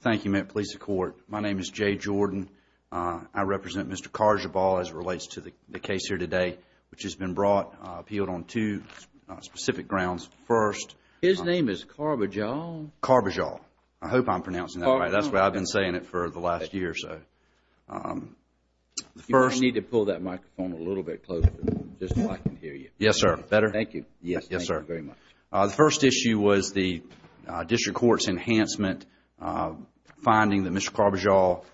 Thank you, Met Police and Court. My name is Jay Jordan. I represent Mr. Carjabal as it relates to the case here today, which has been brought, appealed on two specific grounds. First, His name is Carbajal? Carbajal. I hope I'm pronouncing that right. That's why I've been saying it for the last year or so. You may need to pull that microphone a little bit closer, just so I can hear you. Yes, sir. Better? Thank you. Yes, sir. Thank you very much. The first issue was the district court's enhancement, finding that Mr. Carbajal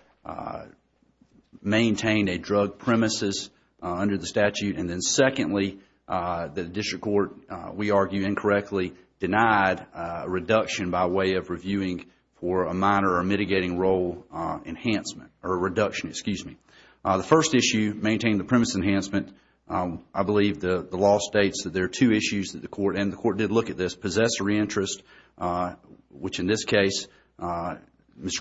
maintained a drug premises under the statute. And then secondly, the district court, we argue incorrectly, denied reduction by way of reviewing for a minor or mitigating role enhancement or reduction, excuse me. The first issue, maintain the premise enhancement, I believe the law states that there are two issues that the court, and the court did look at this, possessory interest, which in this case, Mr.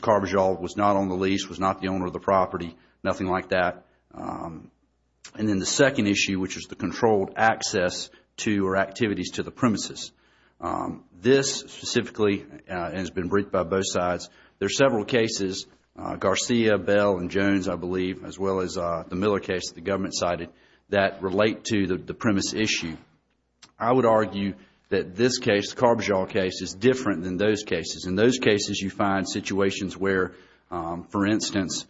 Carbajal was not on the lease, was not the owner of the property, nothing like that. And then the second issue, which is the controlled access to or activities to the premises. This specifically has been briefed by both sides. There are several cases, Garcia, Bell and Jones, I believe, as well as the Miller case the government cited that relate to the premise issue. I would argue that this case, the Carbajal case, is different than those cases. In those cases, you find situations where, for instance,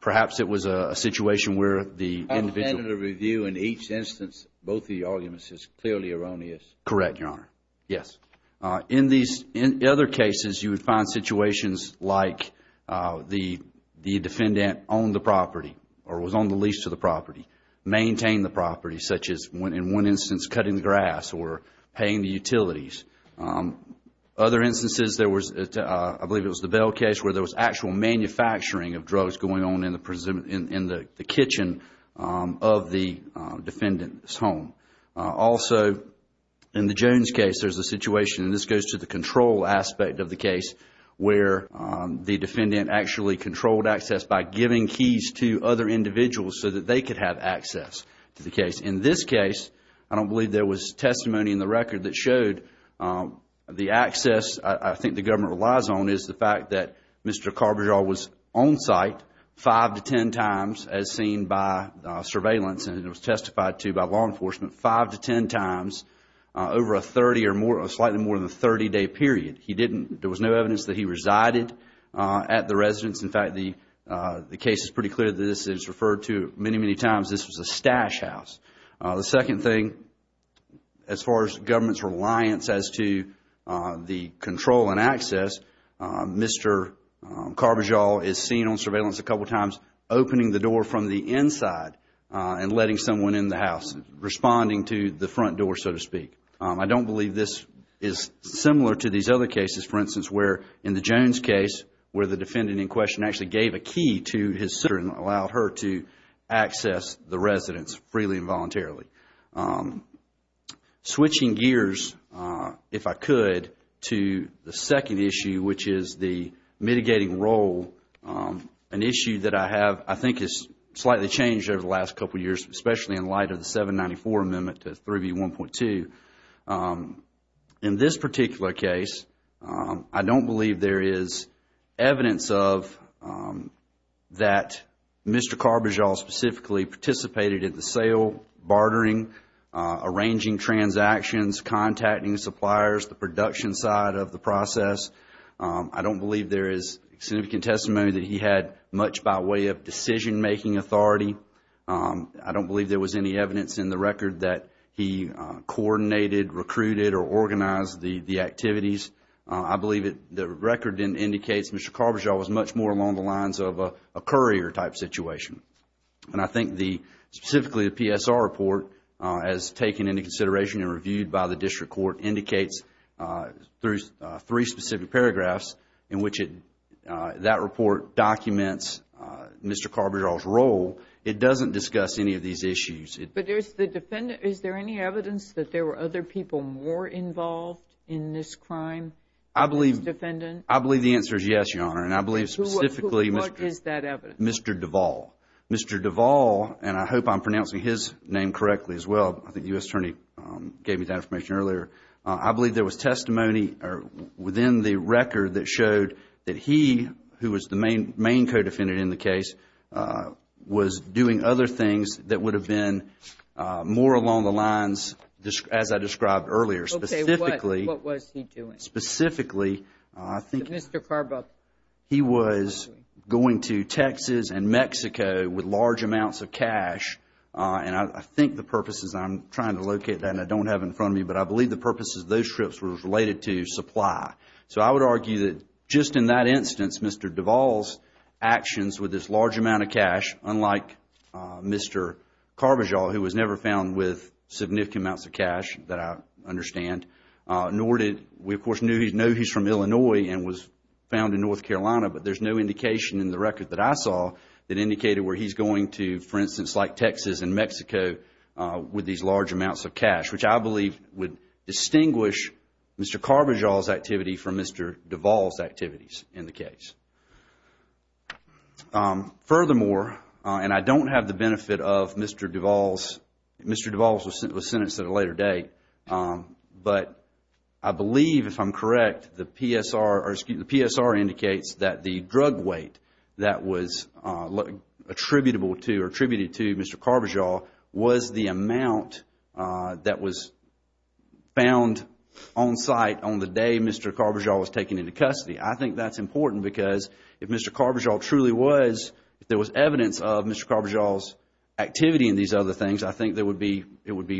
perhaps it was a situation where the individual Under the review in each instance, both the arguments is clearly erroneous. Correct, Your Honor. Yes. In these other cases, you would find situations like the defendant owned the property or was on the lease to the property, maintained the property, such as in one instance, cutting the grass or paying the utilities. Other instances, there was, I believe it was the Bell case, where there was actual manufacturing of drugs going on in the kitchen of the defendant's home. Also in the Jones case, there is a situation, and this goes to the control aspect of the case, where the defendant actually controlled access by giving keys to other individuals so that they could have access to the case. In this case, I don't believe there was testimony in the record that showed the access I think the government relies on is the fact that Mr. Carbajal was on site five to ten times, as seen by surveillance and it was testified to by law enforcement, five to ten times over a slightly more than 30-day period. There was no evidence that he resided at the residence. In fact, the case is pretty clear that this is referred to many, many times, this was a stash house. The second thing, as far as government's reliance as to the control and access, Mr. Carbajal is seen on surveillance a couple of times opening the door from the inside and letting someone in the house, responding to the front door, so to speak. I don't believe this is similar to these other cases. For instance, where in the Jones case, where the defendant in question actually gave a key to his sister and allowed her to access the residence freely and voluntarily. Switching gears, if I could, to the second issue, which is the mitigating role, an issue that I have I think has slightly changed over the last couple of years, especially in light of the 794 Amendment to 3B1.2. In this particular case, I don't believe there is evidence of that Mr. Carbajal specifically participated in the sale, bartering, arranging transactions, contacting suppliers, the production side of the process. I don't believe there is significant testimony that he had much by way of decision-making authority. I don't believe there was any evidence in the record that he coordinated, recruited, or organized the activities. I believe the record indicates Mr. Carbajal was much more along the lines of a courier type situation. I think specifically the PSR report, as taken into consideration and reviewed by the District Court, indicates through three specific paragraphs in which that report documents Mr. Carbajal's role. It doesn't discuss any of these issues. But is there any evidence that there were other people more involved in this crime? I believe the answer is yes, Your Honor. And I believe specifically Mr. Duvall. Mr. Duvall, and I hope I am pronouncing his name correctly as well, I think the U.S. Attorney gave me that information earlier. I believe there was testimony within the record that showed that he, who was the main co-defendant in the case, was doing other things that would have been more along the lines as I described earlier. Okay. What was he doing? Specifically, I think he was going to Texas and Mexico with large amounts of cash. And I think the purposes, I am trying to locate that and I don't have it in front of me, but I believe the purposes of those trips were related to supply. So I would argue that just in that instance, Mr. Duvall's actions with this large amount of cash, unlike Mr. Carbajal, who was never found with significant amounts of cash that I understand, nor did, we of course know he is from Illinois and was found in North Carolina, but there is no indication in the record that I saw that indicated where he is going to, for instance, like Texas and Mexico with these large amounts of cash, which I believe would distinguish Mr. Carbajal's and Mr. Duvall's activities in the case. Furthermore, and I don't have the benefit of Mr. Duvall's, Mr. Duvall's was sentenced at a later date, but I believe if I am correct, the PSR indicates that the drug weight that was attributable to or attributed to Mr. Carbajal was the amount that was found on site on the day Mr. Carbajal was taken into custody. I think that is important because if Mr. Carbajal truly was, if there was evidence of Mr. Carbajal's activity in these other things, I think it would be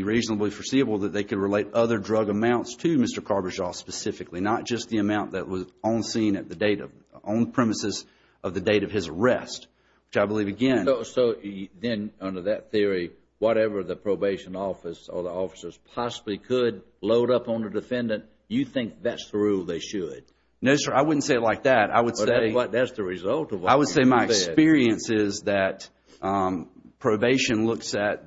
reasonably foreseeable that they could relate other drug amounts to Mr. Carbajal specifically, not just the amount that was on scene at the date of, on premises of the date of his arrest, which I believe again. So then under that theory, whatever the probation office or the officers possibly could load up on a defendant, you think that is the rule they should? No, sir. I wouldn't say it like that. I would say my experience is that probation looks at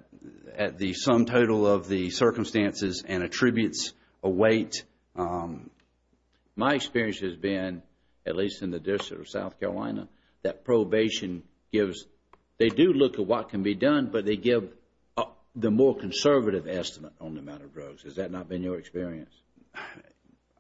the sum total of the circumstances and attributes a weight. My experience has been, at least in the District of South Carolina, that probation gives, they do look at what can be done, but they give the more conservative estimate on the amount of drugs. Has that not been your experience?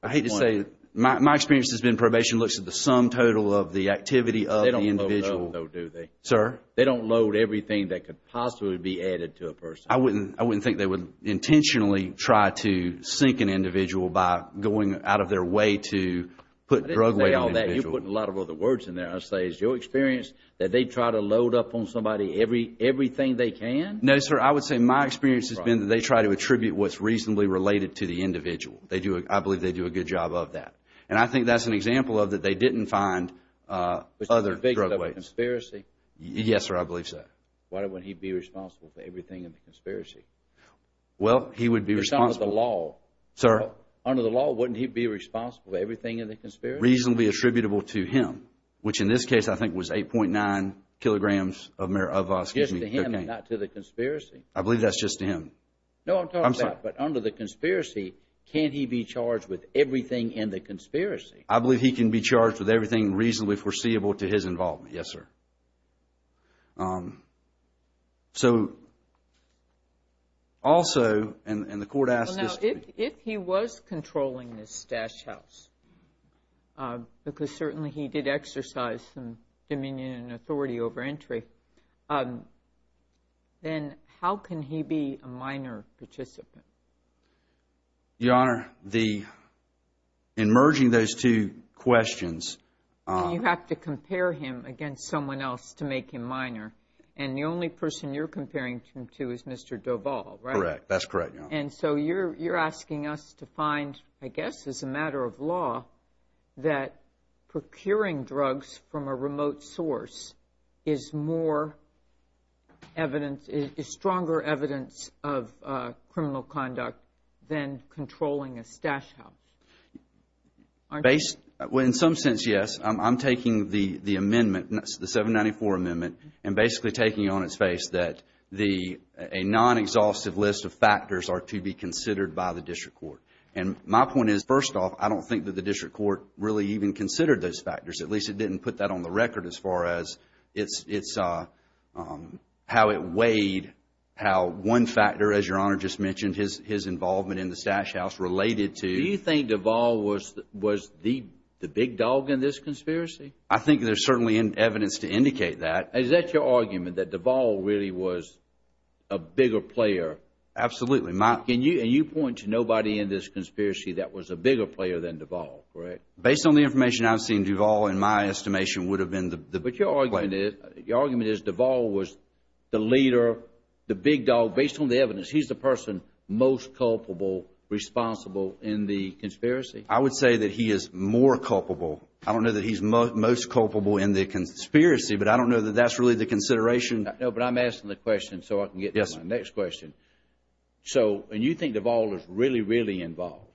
I hate to say it. My experience has been probation looks at the sum total of the activity of the individual. They don't load up though, do they? Sir? They don't load everything that could possibly be added to a person. I wouldn't think they would intentionally try to sink an individual by going out of their way to put drug weight on an individual. I didn't say all that. You're putting a lot of other words in there. I say, is your experience that they try to load up on somebody everything they can? No, sir. I would say my experience has been that they try to attribute what's reasonably related to the individual. I believe they do a good job of that. And I think that's an example of that they didn't find other drug weights. Is he a victim of a conspiracy? Yes, sir. I believe so. Why wouldn't he be responsible for everything in the conspiracy? Well, he would be responsible. It's under the law. Sir? Under the law, wouldn't he be responsible for everything in the conspiracy? Reasonably attributable to him, which in this case I think was 8.9 kilograms of cocaine. That's to him and not to the conspiracy. I believe that's just to him. No, I'm talking about, but under the conspiracy, can't he be charged with everything in the conspiracy? I believe he can be charged with everything reasonably foreseeable to his involvement. Yes, sir. So, also, and the court asked this to me. If he was controlling this stash house, because certainly he did exercise some dominion and authority, then how can he be a minor participant? Your Honor, in merging those two questions... You have to compare him against someone else to make him minor. And the only person you're comparing him to is Mr. Duval, right? Correct. That's correct, Your Honor. And so you're asking us to find, I guess as a matter of law, that procuring drugs from a remote source is more evidence, is stronger evidence of criminal conduct than controlling a stash house, aren't you? Well, in some sense, yes. I'm taking the amendment, the 794 Amendment, and basically taking it on its face that a non-exhaustive list of factors are to be considered by the district court. And my point is, first off, I don't think that the district court really even has it on the record as far as how it weighed, how one factor, as Your Honor just mentioned, his involvement in the stash house related to... Do you think Duval was the big dog in this conspiracy? I think there's certainly evidence to indicate that. Is that your argument, that Duval really was a bigger player? Absolutely. And you point to nobody in this conspiracy that was a bigger player than Duval, correct? Based on the information I've seen, Duval, in my estimation, would have been the... But your argument is Duval was the leader, the big dog, based on the evidence, he's the person most culpable, responsible in the conspiracy? I would say that he is more culpable. I don't know that he's most culpable in the conspiracy, but I don't know that that's really the consideration. No, but I'm asking the question so I can get to my next question. So and you think Duval is really, really involved?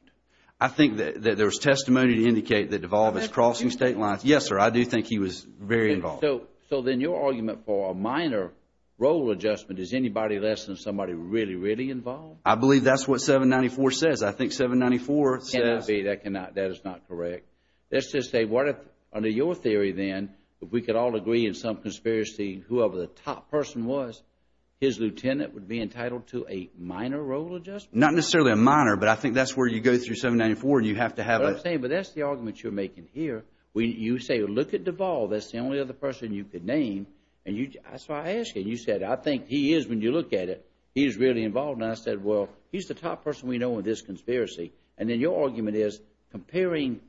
I think that there's testimony to indicate that Duval is crossing state lines. Yes, sir. I do think he was very involved. So then your argument for a minor role adjustment is anybody less than somebody really, really involved? I believe that's what 794 says. I think 794 says... That cannot be. That is not correct. Let's just say, under your theory then, if we could all agree in some conspiracy, whoever the top person was, his lieutenant would be entitled to a minor role adjustment? Not necessarily a minor, but I think that's where you go through 794 and you have to have... What I'm saying, but that's the argument you're making here. You say, look at Duval. That's the only other person you could name. That's why I asked you. You said, I think he is, when you look at it, he is really involved. And I said, well, he's the top person we know in this conspiracy. And then your argument is, comparing,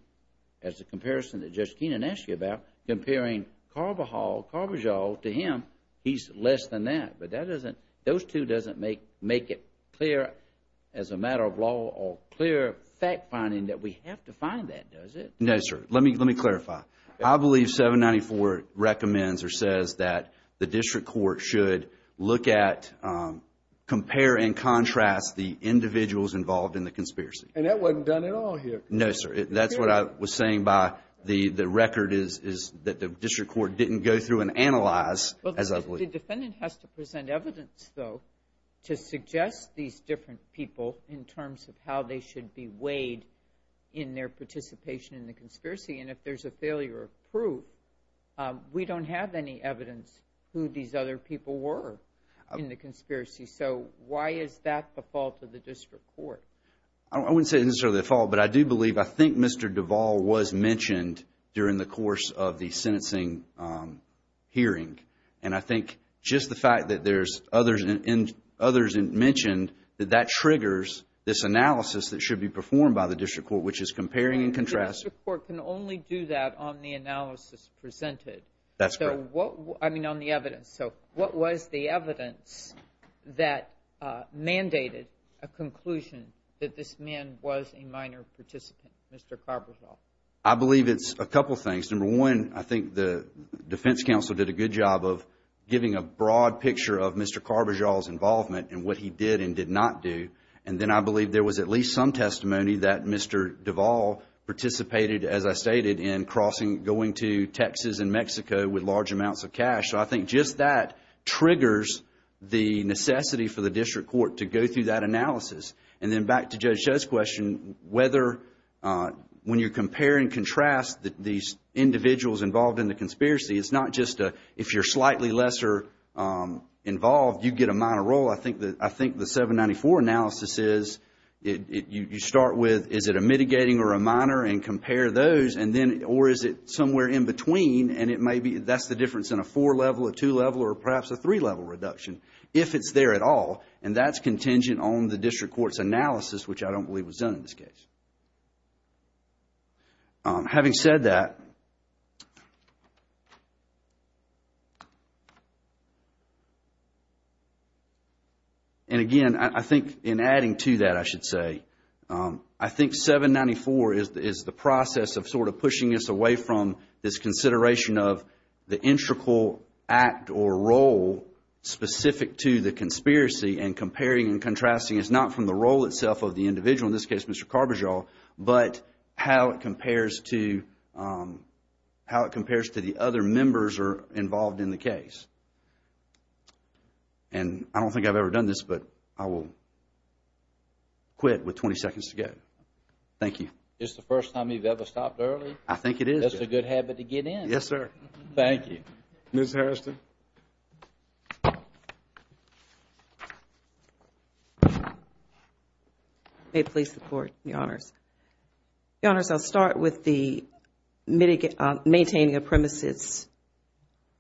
as a comparison that Judge Keenan asked you about, comparing Carbajal to him, he's less than that. But that doesn't... As a matter of law or clear fact finding, that we have to find that, does it? No, sir. Let me clarify. I believe 794 recommends or says that the district court should look at, compare and contrast the individuals involved in the conspiracy. And that wasn't done at all here. No, sir. That's what I was saying by the record is that the district court didn't go through and analyze, as I believe. The defendant has to present evidence, though, to suggest these different people in terms of how they should be weighed in their participation in the conspiracy. And if there's a failure of proof, we don't have any evidence who these other people were in the conspiracy. So why is that the fault of the district court? I wouldn't say necessarily the fault, but I do believe, I think Mr. Duval was mentioned during the course of the sentencing hearing. And I think just the fact that there's others mentioned, that that triggers this analysis that should be performed by the district court, which is comparing and contrasting. The district court can only do that on the analysis presented. That's correct. So what, I mean, on the evidence. So what was the evidence that mandated a conclusion that this man was a minor participant, Mr. Carbajal? I believe it's a couple of things. Number one, I think the defense counsel did a good job of giving a broad picture of Mr. Carbajal's involvement and what he did and did not do. And then I believe there was at least some testimony that Mr. Duval participated, as I stated, in crossing, going to Texas and Mexico with large amounts of cash. So I think just that triggers the necessity for the district court to go through that analysis. And then back to Judge Cho's question, whether, when you compare and contrast these individuals involved in the conspiracy, it's not just a, if you're slightly lesser involved, you get a minor role. I think the 794 analysis is, you start with, is it a mitigating or a minor, and compare those, and then, or is it somewhere in between, and it may be, that's the difference in a four level, a two level, or perhaps a three level reduction, if it's there at all, and that's contingent on the district court's analysis, which I don't believe was done in this case. Having said that, and again, I think, in adding to that, I should say, I think 794 is the process of sort of pushing us away from this consideration of the integral act or role specific to the conspiracy and comparing and contrasting. It's not from the role itself of the individual, in this case, Mr. Carbajal, but how it compares to, how it compares to the other members or involved in the case. And I don't think I've ever done this, but I will quit with 20 seconds to go. Thank you. It's the first time you've ever stopped early. I think it is. That's a good habit to get in. Yes, sir. Thank you. Ms. Harriston? May it please the Court, Your Honors. Your Honors, I'll start with the maintaining a premises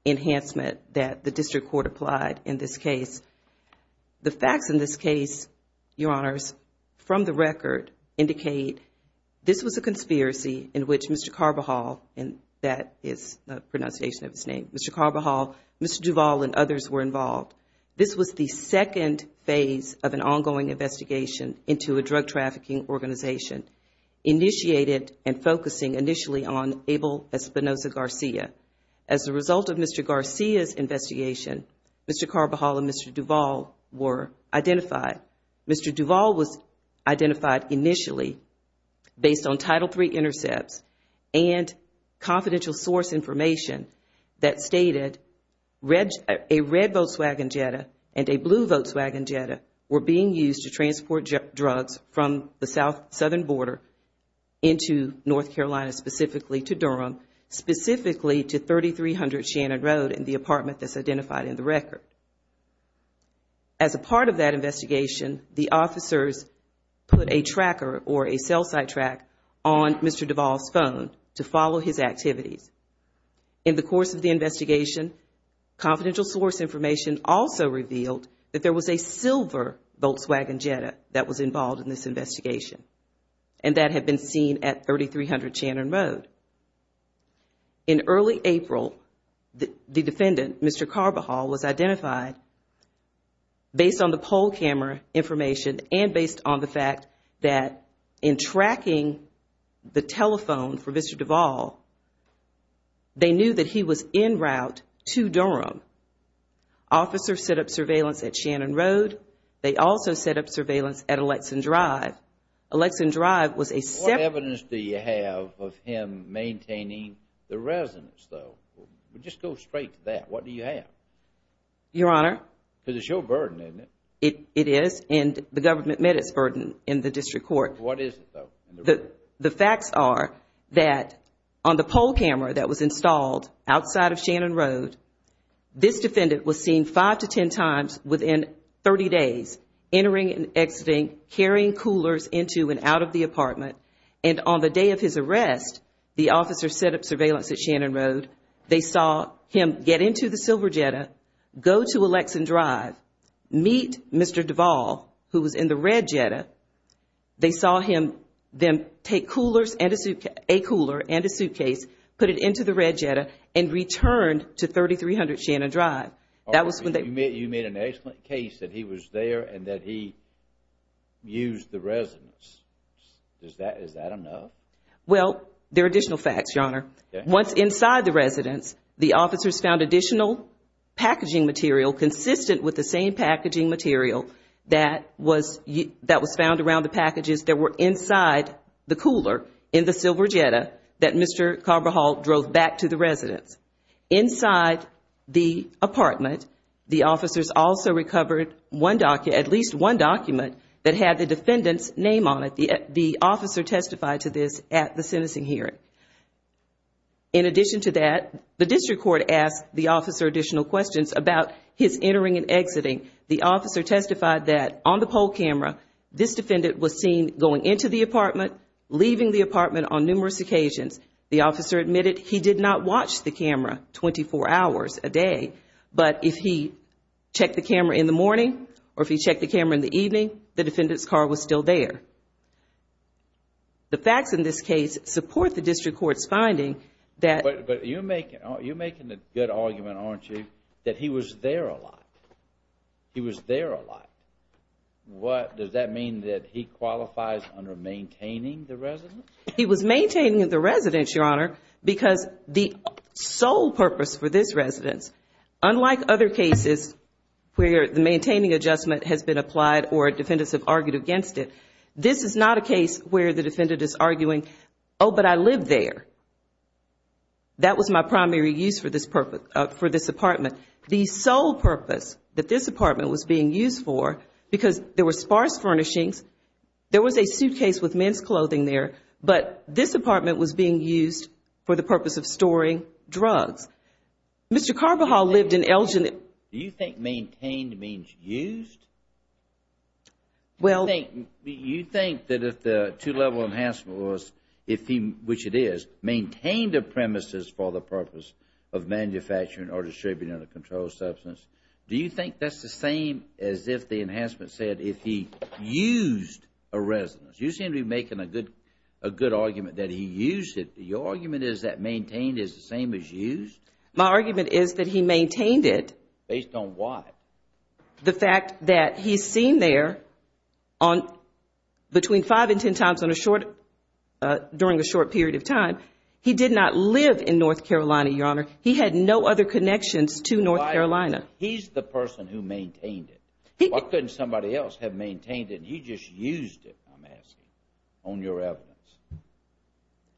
enhancement that the district court applied in this case. The facts in this case, Your Honors, from the record, indicate this was a conspiracy in which Mr. Carbajal, and that is the pronunciation of his name, Mr. Carbajal, Mr. Duvall, and others were involved. This was the second phase of an ongoing investigation into a drug trafficking organization initiated and focusing initially on Abel Espinosa Garcia. As a result of Mr. Garcia's investigation, Mr. Carbajal and Mr. Duvall were identified. Mr. Duvall was identified initially based on Title III intercepts and confidential source information that stated a red Volkswagen Jetta and a blue Volkswagen Jetta were being used to transport drugs from the south-southern border into North Carolina, specifically to Durham, specifically to 3300 Shannon Road in the apartment that's identified in the record. As a part of that investigation, the officers put a tracker or a cell site track on Mr. Duvall's phone to follow his activities. In the course of the investigation, confidential source information also revealed that there was a silver Volkswagen Jetta that was involved in this investigation, and that had been seen at 3300 Shannon Road. In early April, the based on the poll camera information and based on the fact that in tracking the telephone for Mr. Duvall, they knew that he was en route to Durham. Officers set up surveillance at Shannon Road. They also set up surveillance at Alexan Drive. Alexan Drive was a separate What evidence do you have of him maintaining the residence, though? Just go straight to that. What do you have? Your Honor? Because it's your burden, isn't it? It is, and the government met its burden in the district court. What is it, though? The facts are that on the poll camera that was installed outside of Shannon Road, this defendant was seen five to ten times within 30 days, entering and exiting, carrying coolers into and out of the apartment. And on the day of his arrest, the officers set up surveillance at Shannon Road, put it into the silver Jetta, go to Alexan Drive, meet Mr. Duvall, who was in the red Jetta. They saw him then take coolers and a suitcase, a cooler and a suitcase, put it into the red Jetta, and returned to 3300 Shannon Drive. You mean an excellent case that he was there and that he used the residence. Is that enough? Well, there are additional evidence. Inside the residence, the officers found additional packaging material consistent with the same packaging material that was found around the packages that were inside the cooler in the silver Jetta that Mr. Carbajal drove back to the residence. Inside the apartment, the officers also recovered at least one document that had the defendant's name on it. The officer testified to this at the sentencing hearing. In addition to that, the district court asked the officer additional questions about his entering and exiting. The officer testified that on the poll camera, this defendant was seen going into the apartment, leaving the apartment on numerous occasions. The officer admitted he did not watch the camera 24 hours a day, but if he checked the camera in the morning or if he checked the camera in the evening, the facts in this case support the district court's finding that... But you're making a good argument, aren't you, that he was there a lot. He was there a lot. Does that mean that he qualifies under maintaining the residence? He was maintaining the residence, Your Honor, because the sole purpose for this residence, unlike other cases where the maintaining adjustment has been applied or defendants have argued against it, this is not a case where the defendant is arguing, oh, but I lived there. That was my primary use for this apartment. The sole purpose that this apartment was being used for, because there were sparse furnishings, there was a suitcase with men's clothing there, but this apartment was being used for the purpose of storing drugs. Mr. Carbajal lived in Elgin. Do you think maintained means used? You think that if the two-level enhancement was, which it is, maintained a premises for the purpose of manufacturing or distributing of a controlled substance, do you think that's the same as if the enhancement said if he used a residence? You seem to be making a good argument that he used it. Your argument is that maintained is the same as used? My argument is that he maintained it. Based on what? The fact that he's seen there between five and ten times during a short period of time. He did not live in North Carolina, Your Honor. He had no other connections to North Carolina. He's the person who maintained it. Why couldn't somebody else have maintained it and he just used it, I'm asking, on your evidence?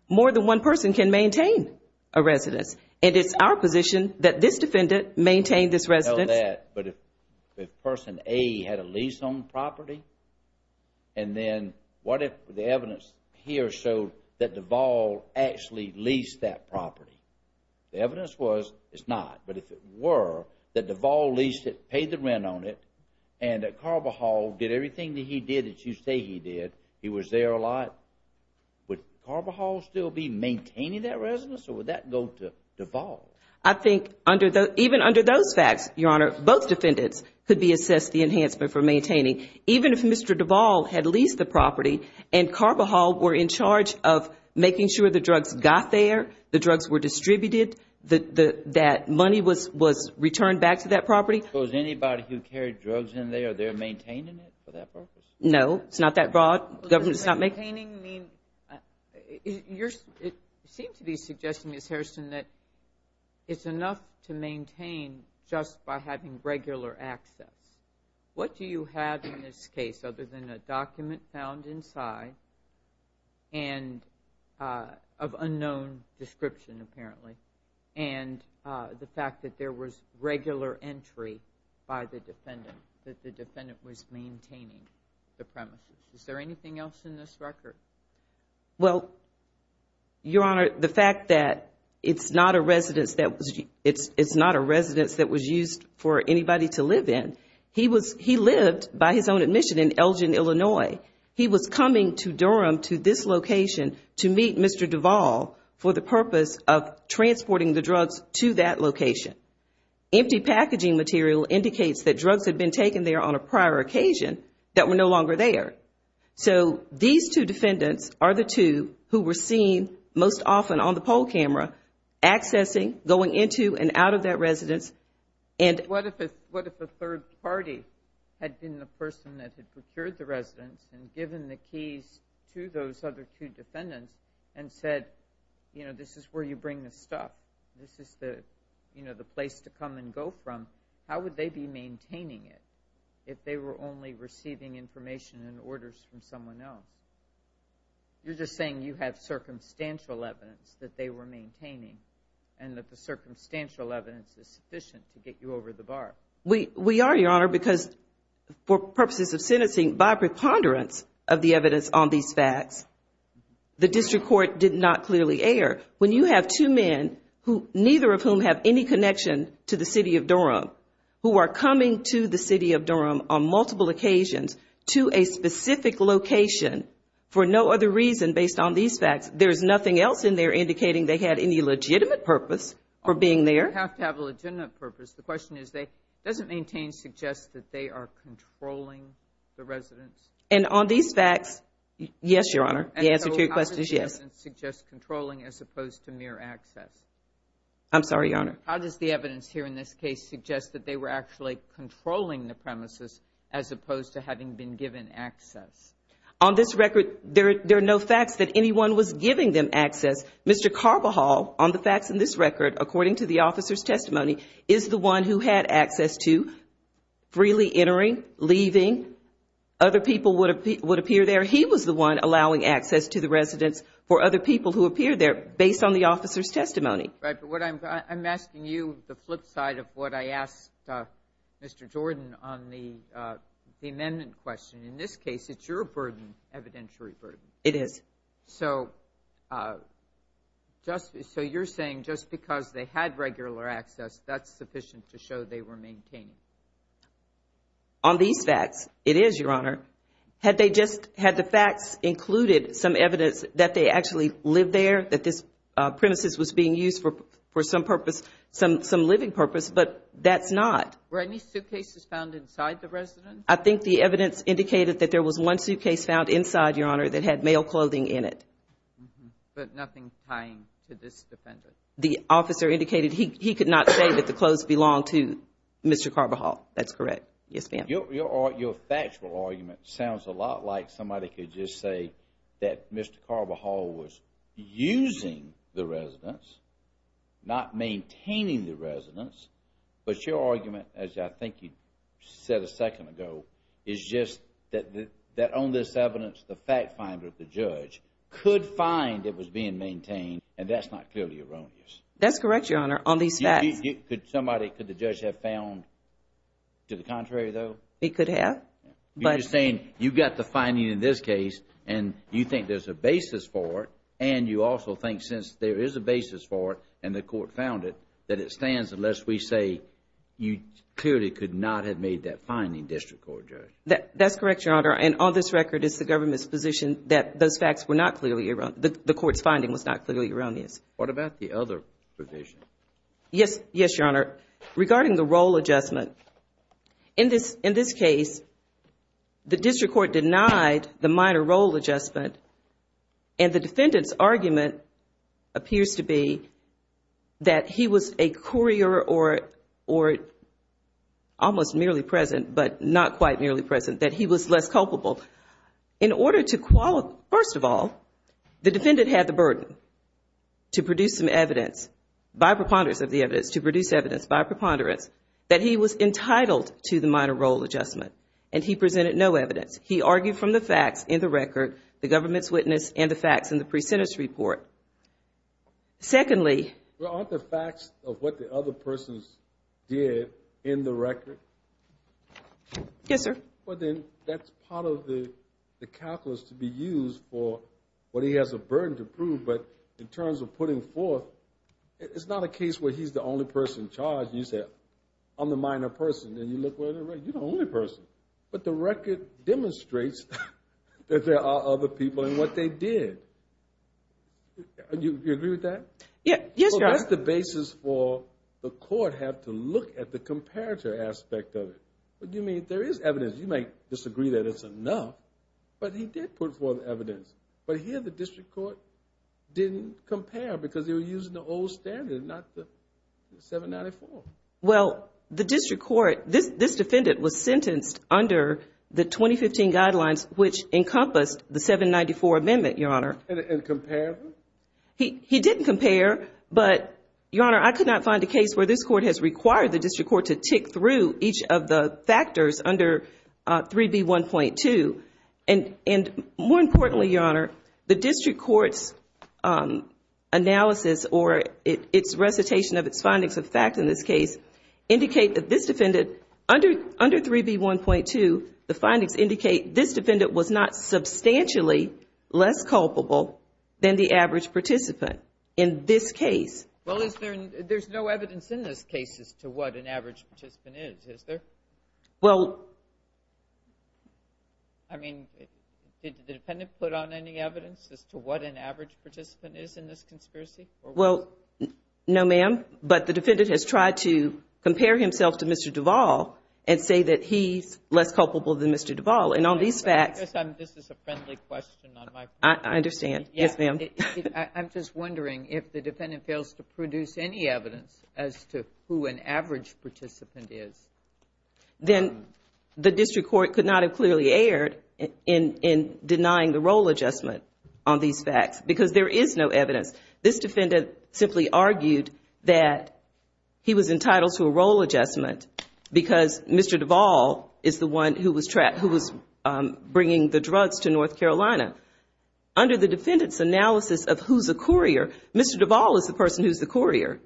More than one person can maintain a residence. It is our position that this defendant maintained this residence. But if person A had a lease on the property, and then what if the evidence here showed that Duvall actually leased that property? The evidence was it's not, but if it were that Duvall leased it, paid the rent on it, and that Carbajal did everything that he did he was there a lot, would Carbajal still be maintaining that residence or would that go to Duvall? I think even under those facts, Your Honor, both defendants could be assessed the enhancement for maintaining. Even if Mr. Duvall had leased the property and Carbajal were in charge of making sure the drugs got there, the drugs were distributed, that money was returned back to that property. So is anybody who carried drugs in there, they're maintaining it for that purpose? No, it's not that broad. It seemed to be suggesting, Ms. Harrison, that it's enough to maintain just by having regular access. What do you have in this case other than a document found inside of unknown description apparently, and the fact that there was regular entry by the defendant, that the defendant was maintaining the premises? Is there anything else in this record? Your Honor, the fact that it's not a residence that was used for anybody to live in, he lived by his own admission in Elgin, Illinois. He was coming to Durham to this location to meet Mr. Duvall for the purpose of transporting the drugs to that location. Empty packaging material indicates that drugs had been taken there on a prior occasion that were no longer there. So these two defendants are the two who were seen most often on the poll camera accessing, going into and out of that residence. What if a third party had been the person that had procured the residence and given the keys to those other two defendants and said, this is where you bring the stuff, this is the place to come and go from, how would they be maintaining it if they were only receiving information and orders from someone else? You're just saying you have circumstantial evidence that they were maintaining and that the circumstantial evidence is sufficient to get you over the bar. We are, Your Honor, because for purposes of sentencing, by preponderance of the evidence on these facts, the district court did not clearly err. When you have two men, neither of whom have any connection to the city of Durham, who are coming to the city of Durham on multiple occasions to a specific location for no other reason based on these facts, there's nothing else in there indicating they had any legitimate purpose for being there. They have to have a legitimate purpose. The question is, does it maintain, suggest that they are controlling the residence? And on these facts, yes, Your Honor. The answer to your question is yes. So how does the evidence suggest controlling as opposed to mere access? I'm sorry, Your Honor. How does the evidence here in this case suggest that they were actually controlling the premises as opposed to having been given access? On this record, there are no facts that anyone was giving them access. Mr. Carbajal, on the facts in this record, according to the officer's testimony, is the one who had access to freely entering, leaving. Other people would appear there. He was the one allowing access to the residence for other people who appeared there based on the officer's testimony. Right. But what I'm asking you, the flip side of what I asked Mr. Jordan on the amendment question, in this case, it's your burden, evidentiary burden. It is. So just so you're saying just because they had regular access, that's sufficient to show they were maintaining? On these facts, it is, Your Honor. Had they just, had the facts included some evidence that they actually lived there, that this premises was being used for some purpose, some living purpose, but that's not. Were any suitcases found inside the residence? I think the evidence indicated that there was one suitcase found inside, Your Honor, that had male clothing in it. But nothing tying to this defendant? The officer indicated he could not say that the clothes belonged to Mr. Carbajal. That's correct. Yes, ma'am. Your factual argument sounds a lot like somebody could just say that Mr. Carbajal was using the residence, not maintaining the residence. But your argument, as I think you said a second ago, is just that on this evidence, the fact finder, the judge, could find it was being maintained, and that's not clearly erroneous. That's correct, Your Honor. On these facts. Could somebody, could the judge have found to the contrary, though? He could have. You're saying you've got the finding in this case, and you think there's a basis for it, and you also think since there is a basis for it, and the court found it, that it stands unless we say you clearly could not have made that finding, District Court Judge. That's correct, Your Honor. And on this record, it's the government's position that those findings was not clearly erroneous. What about the other provision? Yes, Your Honor. Regarding the role adjustment, in this case, the District Court denied the minor role adjustment, and the defendant's argument appears to be that he was a courier or almost merely present, but not quite merely present, that he was less culpable. In order to qualify, first of all, the defendant had the burden to produce some evidence by preponderance of the evidence, to produce evidence by preponderance, that he was entitled to the minor role adjustment, and he presented no evidence. He argued from the facts in the record, the government's witness, and the facts in the pre-sentence report. Secondly. Well, aren't the facts of what the other persons did in the record? Yes, sir. Well, then, that's part of the calculus to be used for what he has a burden to prove, but in terms of putting forth, it's not a case where he's the only person charged. You said, I'm the minor person, and you look where the record, you're the only person. But the record demonstrates that there are other people in what they did. Do you agree with that? Yes, Your Honor. So, that's the basis for the court have to look at the comparative aspect of it. You mean, there is evidence. You may disagree that it's enough, but he did put forth evidence. But here, the district court didn't compare because they were using the old standard, not the 794. Well, the district court, this defendant was sentenced under the 2015 guidelines, which encompassed the 794 amendment, Your Honor. And compared? He didn't compare, but Your Honor, I could not find a case where this court has required the district court to tick through each of the factors under 3B1.2. And more importantly, Your Honor, the district court's analysis or its recitation of its findings of fact in this case indicate that this defendant, under 3B1.2, the findings indicate this defendant was not substantially less culpable than the average participant in this case. Well, there's no evidence in this case as to what an average participant is, is there? I mean, did the defendant put on any evidence as to what an average participant is in this conspiracy? Well, no, ma'am. But the defendant has tried to compare himself to Mr. Duvall and say that he's less culpable than Mr. Duvall. And on these facts... I guess this is a friendly question on my part. I understand. Yes, ma'am. I'm just wondering if the defendant fails to produce any evidence as to who an average participant is. Then the district court could not have clearly erred in denying the role adjustment on these facts because there is no evidence. This defendant simply argued that he was entitled to a role adjustment because Mr. Duvall is the one who was bringing the drugs to North Carolina. Under the defendant's analysis of who's the courier, Mr. Duvall is the person who's the courier.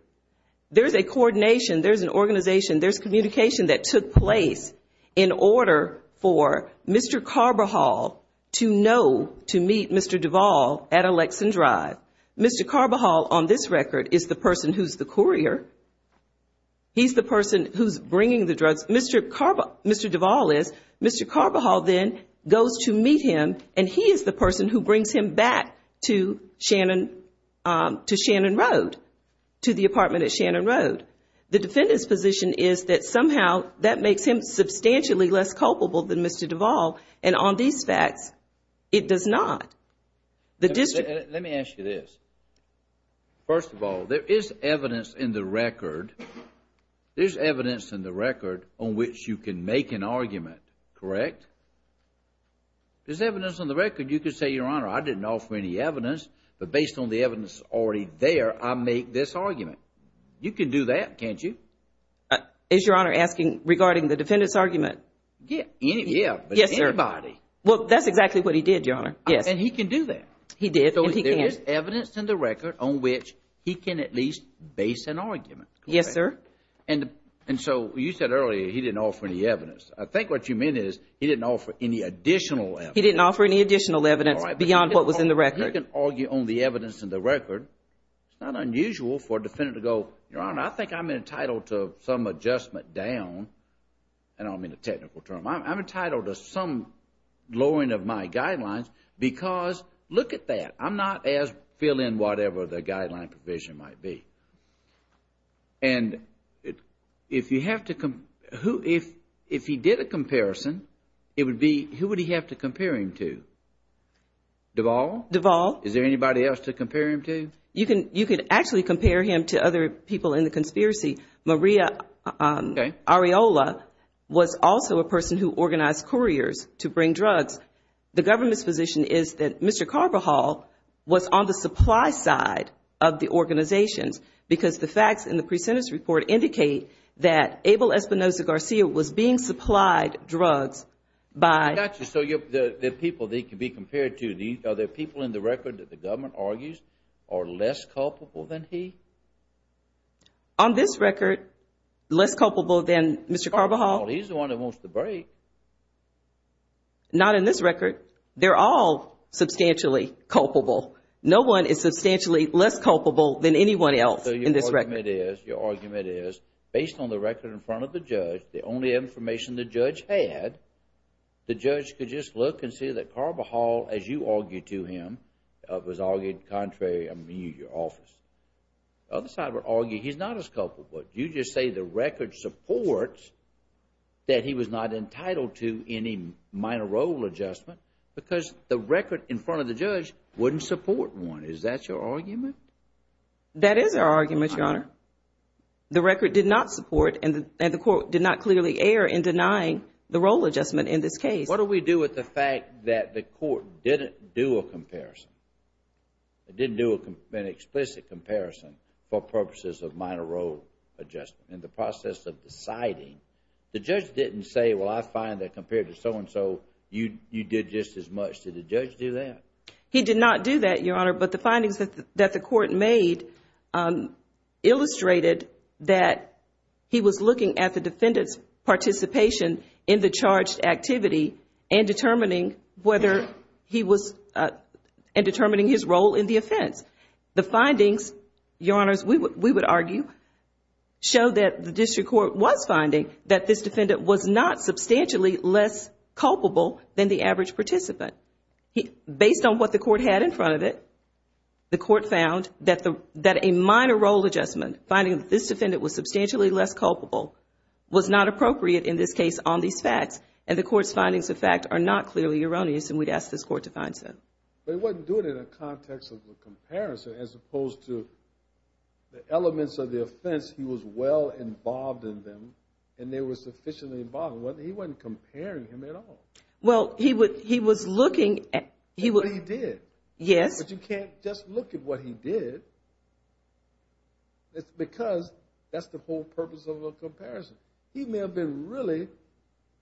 There's a coordination, there's an organization, there's communication that took place in order for Mr. Carbajal to know to meet Mr. Duvall at Alexan Drive. Mr. Carbajal, on this record, is the person who's the courier. He's the person who's bringing the drugs. Mr. Duvall is. Mr. Carbajal then goes to meet him and he is the person who brings him back to Shannon Road, to the apartment at Shannon Road. The defendant's position is that somehow that makes him substantially less culpable than Mr. Duvall. And on these facts, it does not. The district... Let me ask you this. First of all, there is evidence in the record, there's evidence in the record on which you can make an argument, correct? If there's evidence on the record, you could say, Your Honor, I didn't offer any evidence, but based on the evidence already there, I make this argument. You can do that, can't you? Is Your Honor asking regarding the defendant's argument? Yeah, but anybody... Yes, sir. Well, that's exactly what he did, Your Honor, yes. And he can do that. He did and he can't. So there is evidence in the record on which he can at least base an argument. Yes, sir. And so you said earlier he didn't offer any evidence. I think what you mean is he didn't offer any additional evidence. He didn't offer any additional evidence beyond what was in the record. You can argue on the evidence in the record. It's not unusual for a defendant to go, Your Honor, I think I'm entitled to some adjustment down. I don't mean a technical term. I'm entitled to some lowering of my guidelines because look at that. I'm not as filling whatever the guideline provision might be. And if you have to... If he did a comparison, it would be who would he have to compare him to? Duvall? Duvall. Is there anybody else to compare him to? You could actually compare him to other people in the conspiracy. Maria Arriola was also a person who organized couriers to bring drugs. The government's position is that Mr. Carbajal was on the supply side of the organizations because the facts in the pre-sentence report indicate that Abel Espinoza-Garcia was being supplied drugs by... I got you. So there are people that he could be compared to. Are there people in the record that the government argues are less culpable than he? On this record, less culpable than Mr. Carbajal? Carbajal. He's the one that wants to break. Not in this record. They're all substantially culpable. No one is substantially less culpable than anyone else in this record. So your argument is, based on the record in front of the judge, the only information the judge had, the judge could just look and see that Carbajal, as you argued to him, was argued contrary in your office. The other side would argue he's not as culpable. You just say the judge is not entitled to any minor role adjustment because the record in front of the judge wouldn't support one. Is that your argument? That is our argument, Your Honor. The record did not support and the court did not clearly err in denying the role adjustment in this case. What do we do with the fact that the court didn't do a comparison? It didn't do an explicit comparison for purposes of minor role adjustment. In the process of deciding, the judge didn't say, well, I find that compared to so-and-so, you did just as much. Did the judge do that? He did not do that, Your Honor, but the findings that the court made illustrated that he was looking at the defendant's participation in the charged activity and determining his role in the offense. The findings, Your Honors, we would argue, show that the district court was finding that this defendant was not substantially less culpable than the average participant. Based on what the court had in front of it, the court found that a minor role adjustment, finding that this defendant was substantially less culpable, was not appropriate in this case on these facts. And the court's findings of fact are not clearly erroneous and we'd ask this court to find some. But he wasn't doing it in a context of a comparison as opposed to the elements of the offense he was well involved in them and they were sufficiently involved. He wasn't comparing him at all. Well, he was looking at what he did, but you can't just look at what he did. It's because that's the whole purpose of a comparison. He may have been really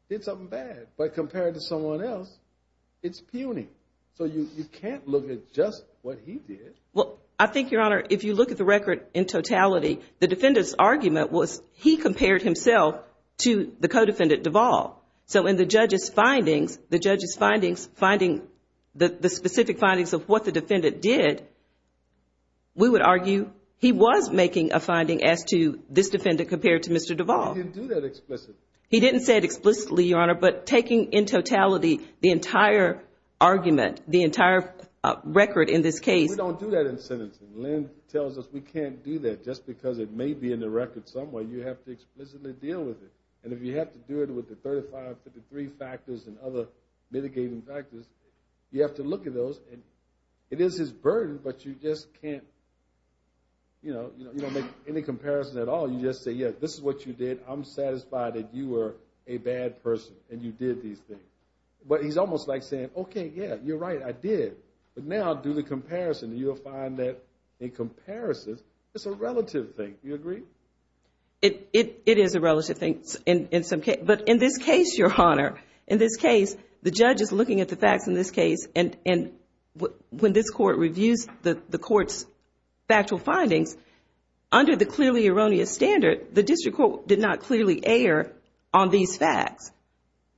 did something bad, but compared to someone else, it's puny. So you can't look at just what he did. Well, I think, Your Honor, if you look at the record in totality, the defendant's argument was he compared himself to the co-defendant Duvall. So in the judge's findings, the judge's findings, finding the specific findings of what the defendant did, we would argue he was making a finding as to this defendant compared to Mr. Duvall. He didn't do that explicitly. He didn't say it explicitly, Your Honor, but taking in totality the entire argument, the entire record in this case. We don't do that in sentencing. Lynn tells us we can't do that just because it may be in the record somewhere. You have to explicitly deal with it. And if you have to do it with the 35, 53 factors and other mitigating factors, you have to look at those. It is his burden, but you just can't make any comparison at all. You just say, yeah, this is what you did. I'm satisfied that you were a bad person and you did these things. But he's almost like saying, okay, yeah, you're right, I did. But now do the comparison. You'll find that in comparison, it's a relative thing. Do you agree? It is a relative thing in some cases. But in this case, Your Honor, in this case, the judge is looking at the facts in this case. And when this court reviews the court's factual findings, under the clearly erroneous standard, the district court did not clearly err on these facts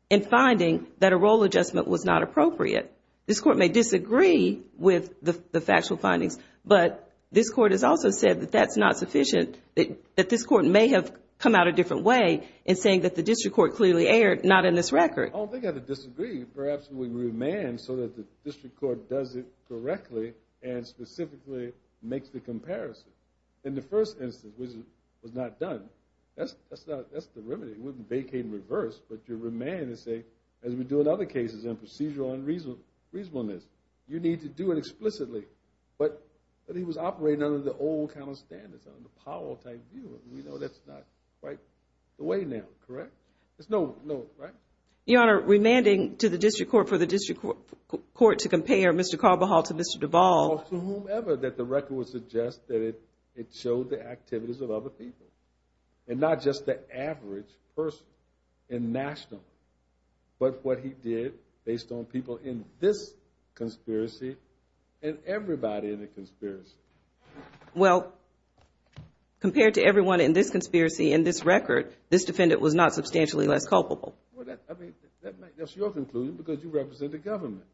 in finding that a role adjustment was not appropriate. This court may disagree with the factual findings, but this court has also said that that's not sufficient, that this court may have come out a different way in saying that the district court clearly erred not in this record. I don't think they have to disagree. Perhaps we can remand so that the district court does it correctly and specifically makes the comparison. In the first instance, which was not done, that's the remedy. It wouldn't vacate in reverse, but you remand and say, as we do in other cases in procedural unreasonableness, you need to do it explicitly. But he was operating under the old kind of standards, under Powell-type view. We know that's not quite the way now, correct? There's no, no, right? Your Honor, remanding to the district court for the district court to compare Mr. Carbajal to Mr. Duvall. To whomever that the record would suggest that it showed the activities of other people. And not just the average person in national, but what he did based on people in this conspiracy and everybody in the conspiracy. Well, compared to everyone in this conspiracy in this record, this defendant was not substantially less culpable. Well, that, I mean, that's your conclusion because you represent the government.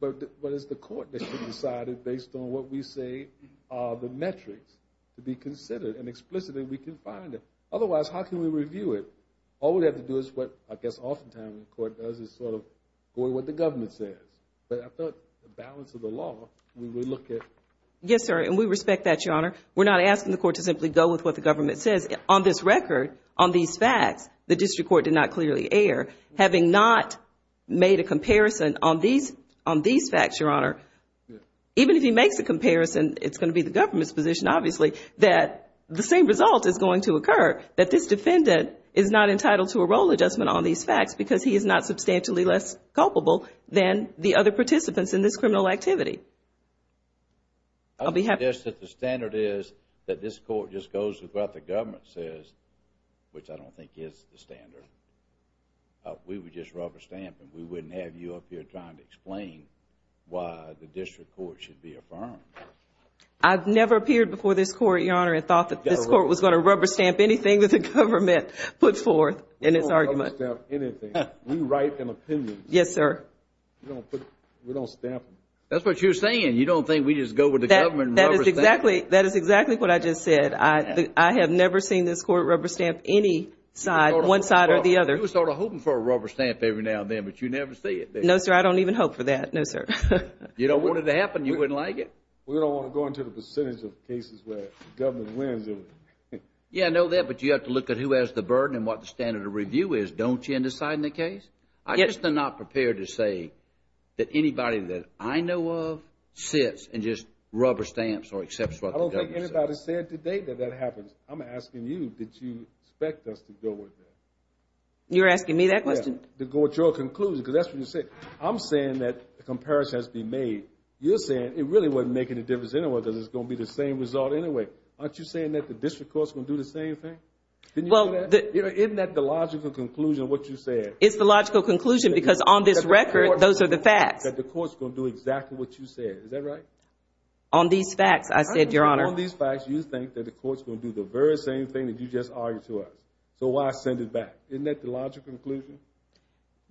But it's the court that should decide it based on what we say are the metrics to be considered. And explicitly, we can find it. Otherwise, how can we review it? All we have to do is what, I guess, often times the court does is sort of go with what the government says. But I thought the balance of the law, we would look at... Yes, sir. And we respect that, Your Honor. We're not asking the court to simply go with what the government says. On this record, on these facts, the district court did not go with these facts, Your Honor. Even if he makes a comparison, it's going to be the government's position, obviously, that the same result is going to occur, that this defendant is not entitled to a role adjustment on these facts because he is not substantially less culpable than the other participants in this criminal activity. I would suggest that the standard is that this court just goes with what the government says, which I don't think is the standard. We would just rubber stamp and we wouldn't have you up here trying to explain why the district court should be affirmed. I've never appeared before this court, Your Honor, and thought that this court was going to rubber stamp anything that the government put forth in its argument. We don't rubber stamp anything. We write an opinion. Yes, sir. We don't stamp them. That's what you're saying. You don't think we just go with the government rubber stamp? That is exactly what I just said. I have never seen this court rubber stamp any side, one side or the other. You were sort of hoping for a rubber stamp every now and then, but you never see it. No, sir. I don't even hope for that. No, sir. You don't want it to happen. You wouldn't like it. We don't want to go into the percentage of cases where the government wins. Yeah, I know that, but you have to look at who has the burden and what the standard of review is, don't you, in deciding the case. I'm just not prepared to say that anybody that I know of sits and just rubber stamps or accepts what the government says. I don't think anybody said today that that happens. I'm asking you, did you expect us to go with that? You're asking me that question? Yeah, to go with your conclusion, because that's what you said. I'm saying that the comparison has to be made. You're saying it really wasn't making a difference anyway, because it's going to be the same result anyway. Aren't you saying that the district court's going to do the same thing? Well, the- Isn't that the logical conclusion of what you said? It's the logical conclusion, because on this record, those are the facts. That the court's going to do exactly what you said. Is that right? On these facts, I said, Your Honor. On these facts, you think that the court's going to do the very same thing that you just argued to us, so why send it back? Isn't that the logical conclusion?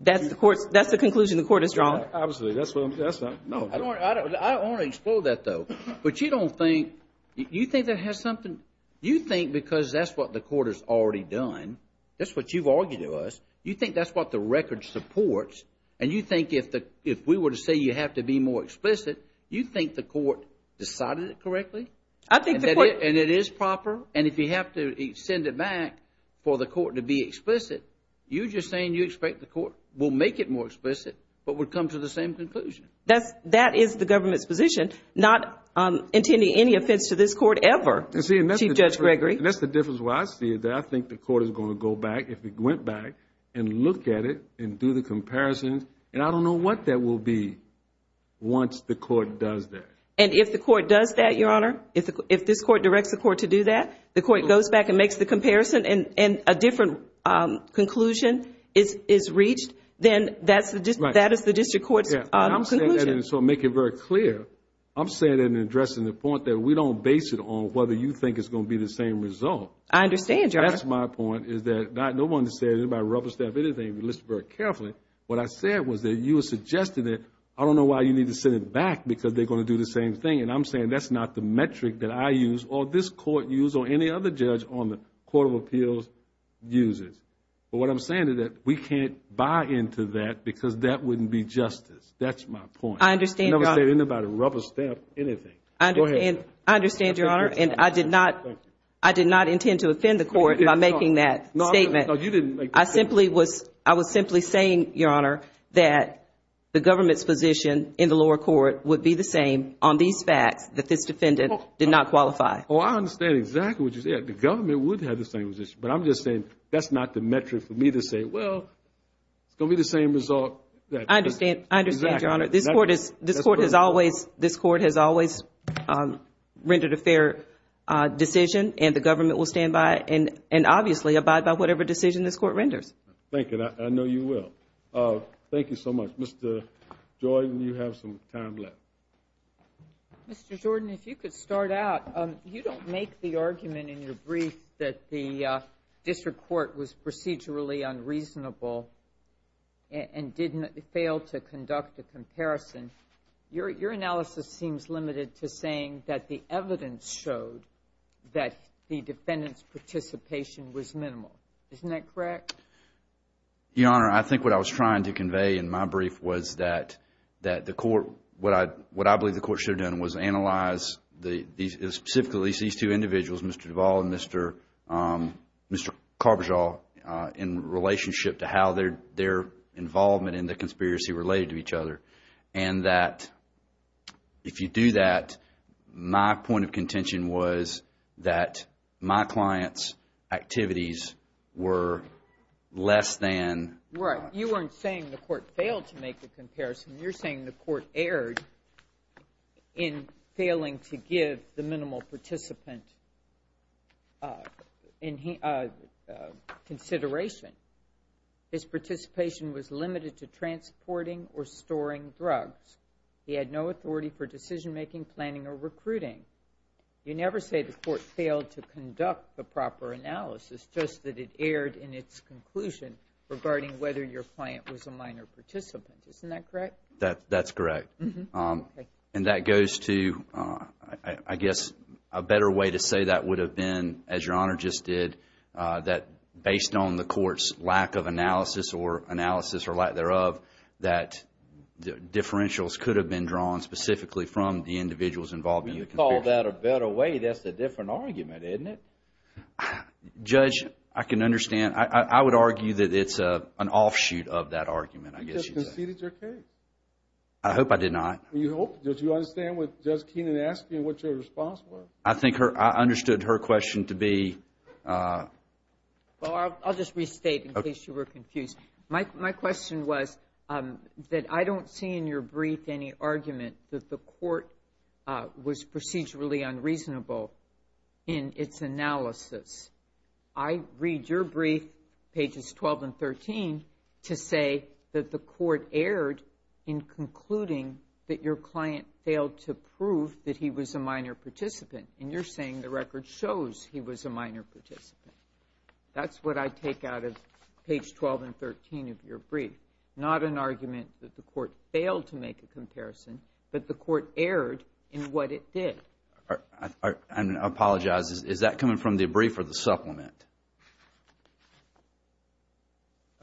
That's the conclusion the court has drawn. Obviously, that's what I'm- I don't want to explore that, though, but you don't think- you think that has something- you think because that's what the court has already done, that's what you've argued to us, you think that's what the record supports, and you think if we were to say you have to be more explicit, you think the court decided it correctly? I think the court- for the court to be explicit, you're just saying you expect the court will make it more explicit, but would come to the same conclusion. That's- that is the government's position, not intending any offense to this court ever, Chief Judge Gregory. And see, and that's the difference where I see it, that I think the court is going to go back, if it went back, and look at it and do the comparisons, and I don't know what that will be once the court does that. And if the court does that, Your Honor, if this court directs the court to do that, the different- and a different conclusion is reached, then that is the district court's conclusion. And I'm saying that, and so I'm making it very clear, I'm saying and addressing the point that we don't base it on whether you think it's going to be the same result. I understand, Your Honor. That's my point, is that I don't want to say that anybody rubber-staffed anything, but listen very carefully. What I said was that you were suggesting that I don't know why you need to send it back because they're going to do the same thing, and I'm saying that's not the metric that I use or this court use or any other judge on the Court of Appeals uses. But what I'm saying is that we can't buy into that because that wouldn't be justice. That's my point. I understand, Your Honor. I never said anybody rubber-staffed anything. Go ahead. I understand, Your Honor, and I did not intend to offend the court by making that statement. No, you didn't make that statement. I was simply saying, Your Honor, that the government's position in the lower court would be the same on these facts that this defendant did not qualify. Oh, I understand exactly what you said. The government would have the same position, but I'm just saying that's not the metric for me to say, well, it's going to be the same result. I understand. I understand, Your Honor. This court has always rendered a fair decision, and the government will stand by and obviously abide by whatever decision this court renders. Thank you. I know you will. Thank you so much. Mr. Jordan, you have some time left. Mr. Jordan, if you could start out. You don't make the argument in your brief that the district court was procedurally unreasonable and didn't fail to conduct a comparison. Your analysis seems limited to saying that the evidence showed that the defendant's participation was minimal. Isn't that correct? Your Honor, I think what I was trying to convey in my brief was that the court, what I believe the court should have done was analyze specifically these two individuals, Mr. Duvall and Mr. Carbajal, in relationship to how their involvement in the conspiracy related to each other. And that if you do that, my point of contention was that my client's activities were less than. Right. You weren't saying the court failed to make the comparison. You're saying the court erred in failing to give the minimal participant consideration. His participation was limited to transporting or storing drugs. He had no authority for decision making, planning, or recruiting. You never say the court failed to conduct the proper analysis, just that it erred in regarding whether your client was a minor participant. Isn't that correct? That's correct. And that goes to, I guess, a better way to say that would have been, as Your Honor just did, that based on the court's lack of analysis or analysis or lack thereof, that differentials could have been drawn specifically from the individuals involved in the conspiracy. When you call that a better way, that's a different argument, isn't it? Judge, I can understand. I would argue that it's an offshoot of that argument, I guess you'd say. You just conceded your case. I hope I did not. You hope. Do you understand what Judge Keenan asked you and what your response was? I think I understood her question to be… Well, I'll just restate in case you were confused. My question was that I don't see in your brief any argument that the court was procedurally unreasonable in its analysis. I read your brief, pages 12 and 13, to say that the court erred in concluding that your client failed to prove that he was a minor participant. And you're saying the record shows he was a minor participant. That's what I take out of page 12 and 13 of your brief. Not an argument that the court failed to make a comparison, but the court erred in what it did. I apologize. Is that coming from the brief or the supplement?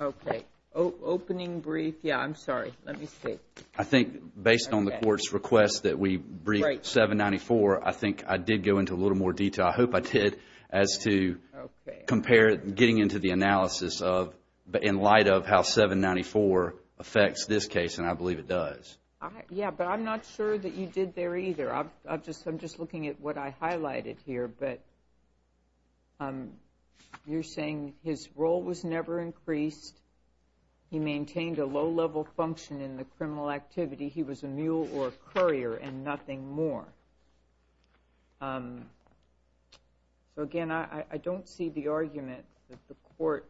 Okay. Opening brief. Yeah, I'm sorry. Let me see. I think based on the court's request that we brief 794, I think I did go into a little more detail. I hope I did, as to getting into the analysis in light of how 794 affects this case, and I believe it does. Yeah, but I'm not sure that you did there either. I'm just looking at what I highlighted here, but you're saying his role was never increased, he maintained a low-level function in the criminal activity, he was a mule or a courier and nothing more. So again, I don't see the argument that the court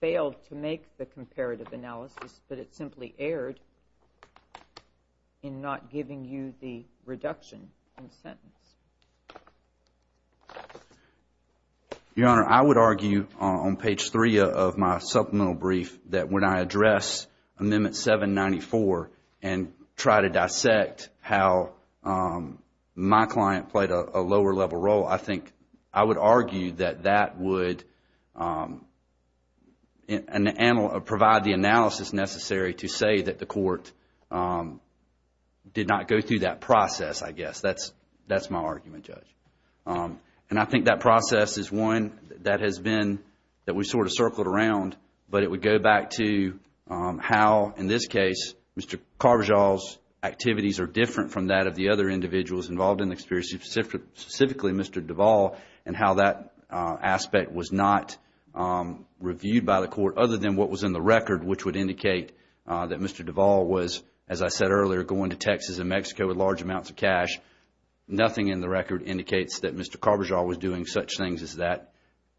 failed to make the comparative analysis, but it simply erred in not giving you the reduction in sentence. Your Honor, I would argue on page 3 of my supplemental brief that when I address amendment 794 and try to dissect how my client played a lower-level role, I would argue that that would provide the analysis necessary to say that the court did not go through that process, I guess. That's my argument, Judge. And I think that process is one that has been, that we sort of circled around, but it would go back to how, in this case, Mr. Carbajal's activities are different from that of the other individuals involved in the experience, specifically Mr. Duvall, and how that aspect was not reviewed by the court other than what was in the record, which would indicate that Mr. Duvall was, as I said earlier, going to Texas and Mexico with large amounts of cash. Nothing in the record indicates that Mr. Carbajal was doing such things as that.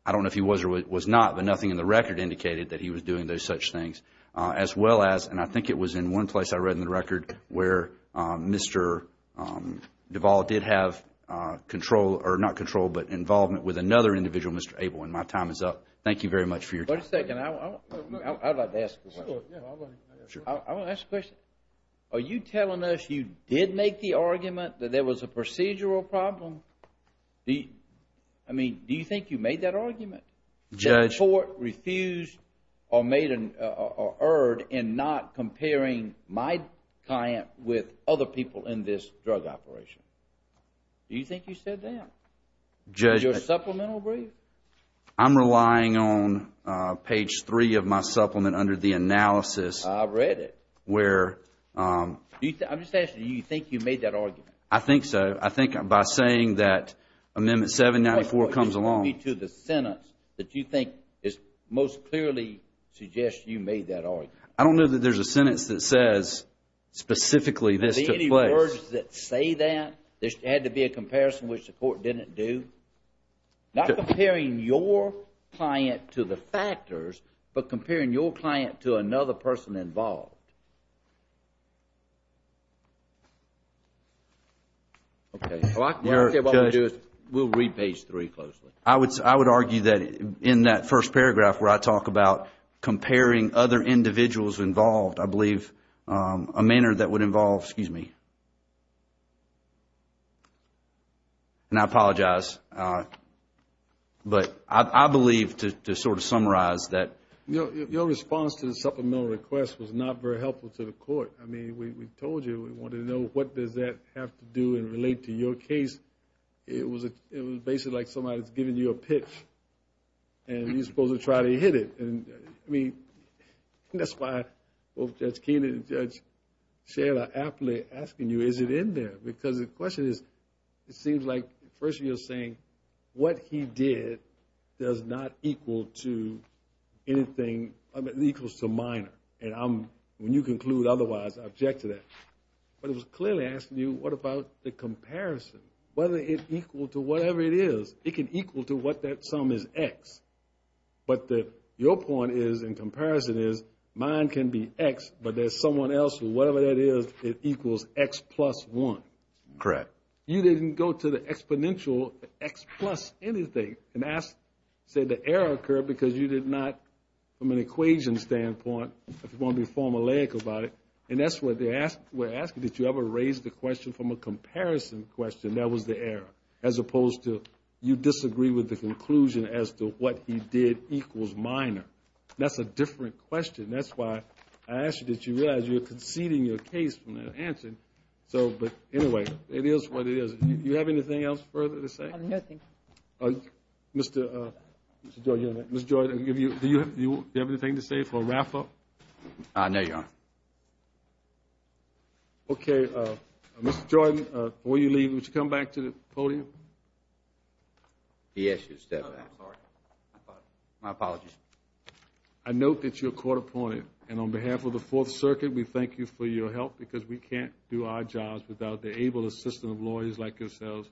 I don't know if he was or was not, but nothing in the record indicated that he was doing those such things. As well as, and I think it was in one place I read in the record where Mr. Duvall did have control, or not control, but involvement with another individual, Mr. Abel, and my time is up. Thank you very much for your time. Wait a second. I would like to ask a question. Sure. I want to ask a question. Are you telling us you did make the argument that there was a procedural problem? I mean, do you think you made that argument? Judge. That the court refused or made or erred in not comparing my client with other people in this drug operation. Do you think you said that? Judge. In your supplemental brief? I'm relying on page three of my supplement under the analysis. I read it. Where. I'm just asking you, do you think you made that argument? I think so. I think by saying that Amendment 794 comes along. Tell me to the sentence that you think most clearly suggests you made that argument. I don't know that there's a sentence that says specifically this took place. Are there any words that say that? There had to be a comparison which the court didn't do? Not comparing your client to the factors, but comparing your client to another person involved. Okay. Well, I can tell you what I'm going to do is we'll read page three closely. I would argue that in that first paragraph where I talk about comparing other individuals involved, I believe a manner that would involve, excuse me, and I apologize, but I believe to sort of summarize that. Your response to the supplemental request was not very helpful to the court. I mean, we told you we wanted to know what does that have to do and relate to your case. It was basically like somebody's giving you a pitch and you're supposed to try to hit it. I mean, that's why both Judge Keenan and Judge Sherrod are aptly asking you, is it in there? Because the question is, it seems like first you're saying what he did does not equal to anything, equals to minor. And when you conclude otherwise, I object to that. But it was clearly asking you, what about the comparison? Whether it's equal to whatever it is. It can equal to what that sum is, X. But your point is, in comparison, is mine can be X, but there's someone else, whatever that is, it equals X plus one. Correct. You didn't go to the exponential X plus anything and say the error occurred because you did not, from an equation standpoint, if you want to be formulaic about it, and that's what they were asking, did you ever raise the question from a comparison question, that was the error, as opposed to you disagree with the conclusion as to what he did equals minor. That's a different question. That's why I asked you, did you realize you were conceding your case from that answer? But anyway, it is what it is. Do you have anything else further to say? No, thank you. Mr. Jordan, do you have anything to say for a wrap-up? No, Your Honor. Okay. Mr. Jordan, before you leave, would you come back to the podium? He asked you to step back. I'm sorry. My apologies. I note that you're court-appointed, and on behalf of the Fourth Circuit, we thank you for your help, because we can't do our jobs without the able assistance of lawyers like yourselves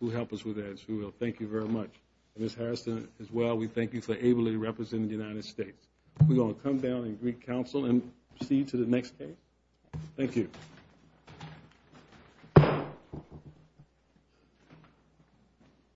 who help us with that, as you will. Thank you very much. Ms. Harrison, as well, we thank you for ably representing the United States. We will come down and greet counsel and proceed to the next case. Thank you.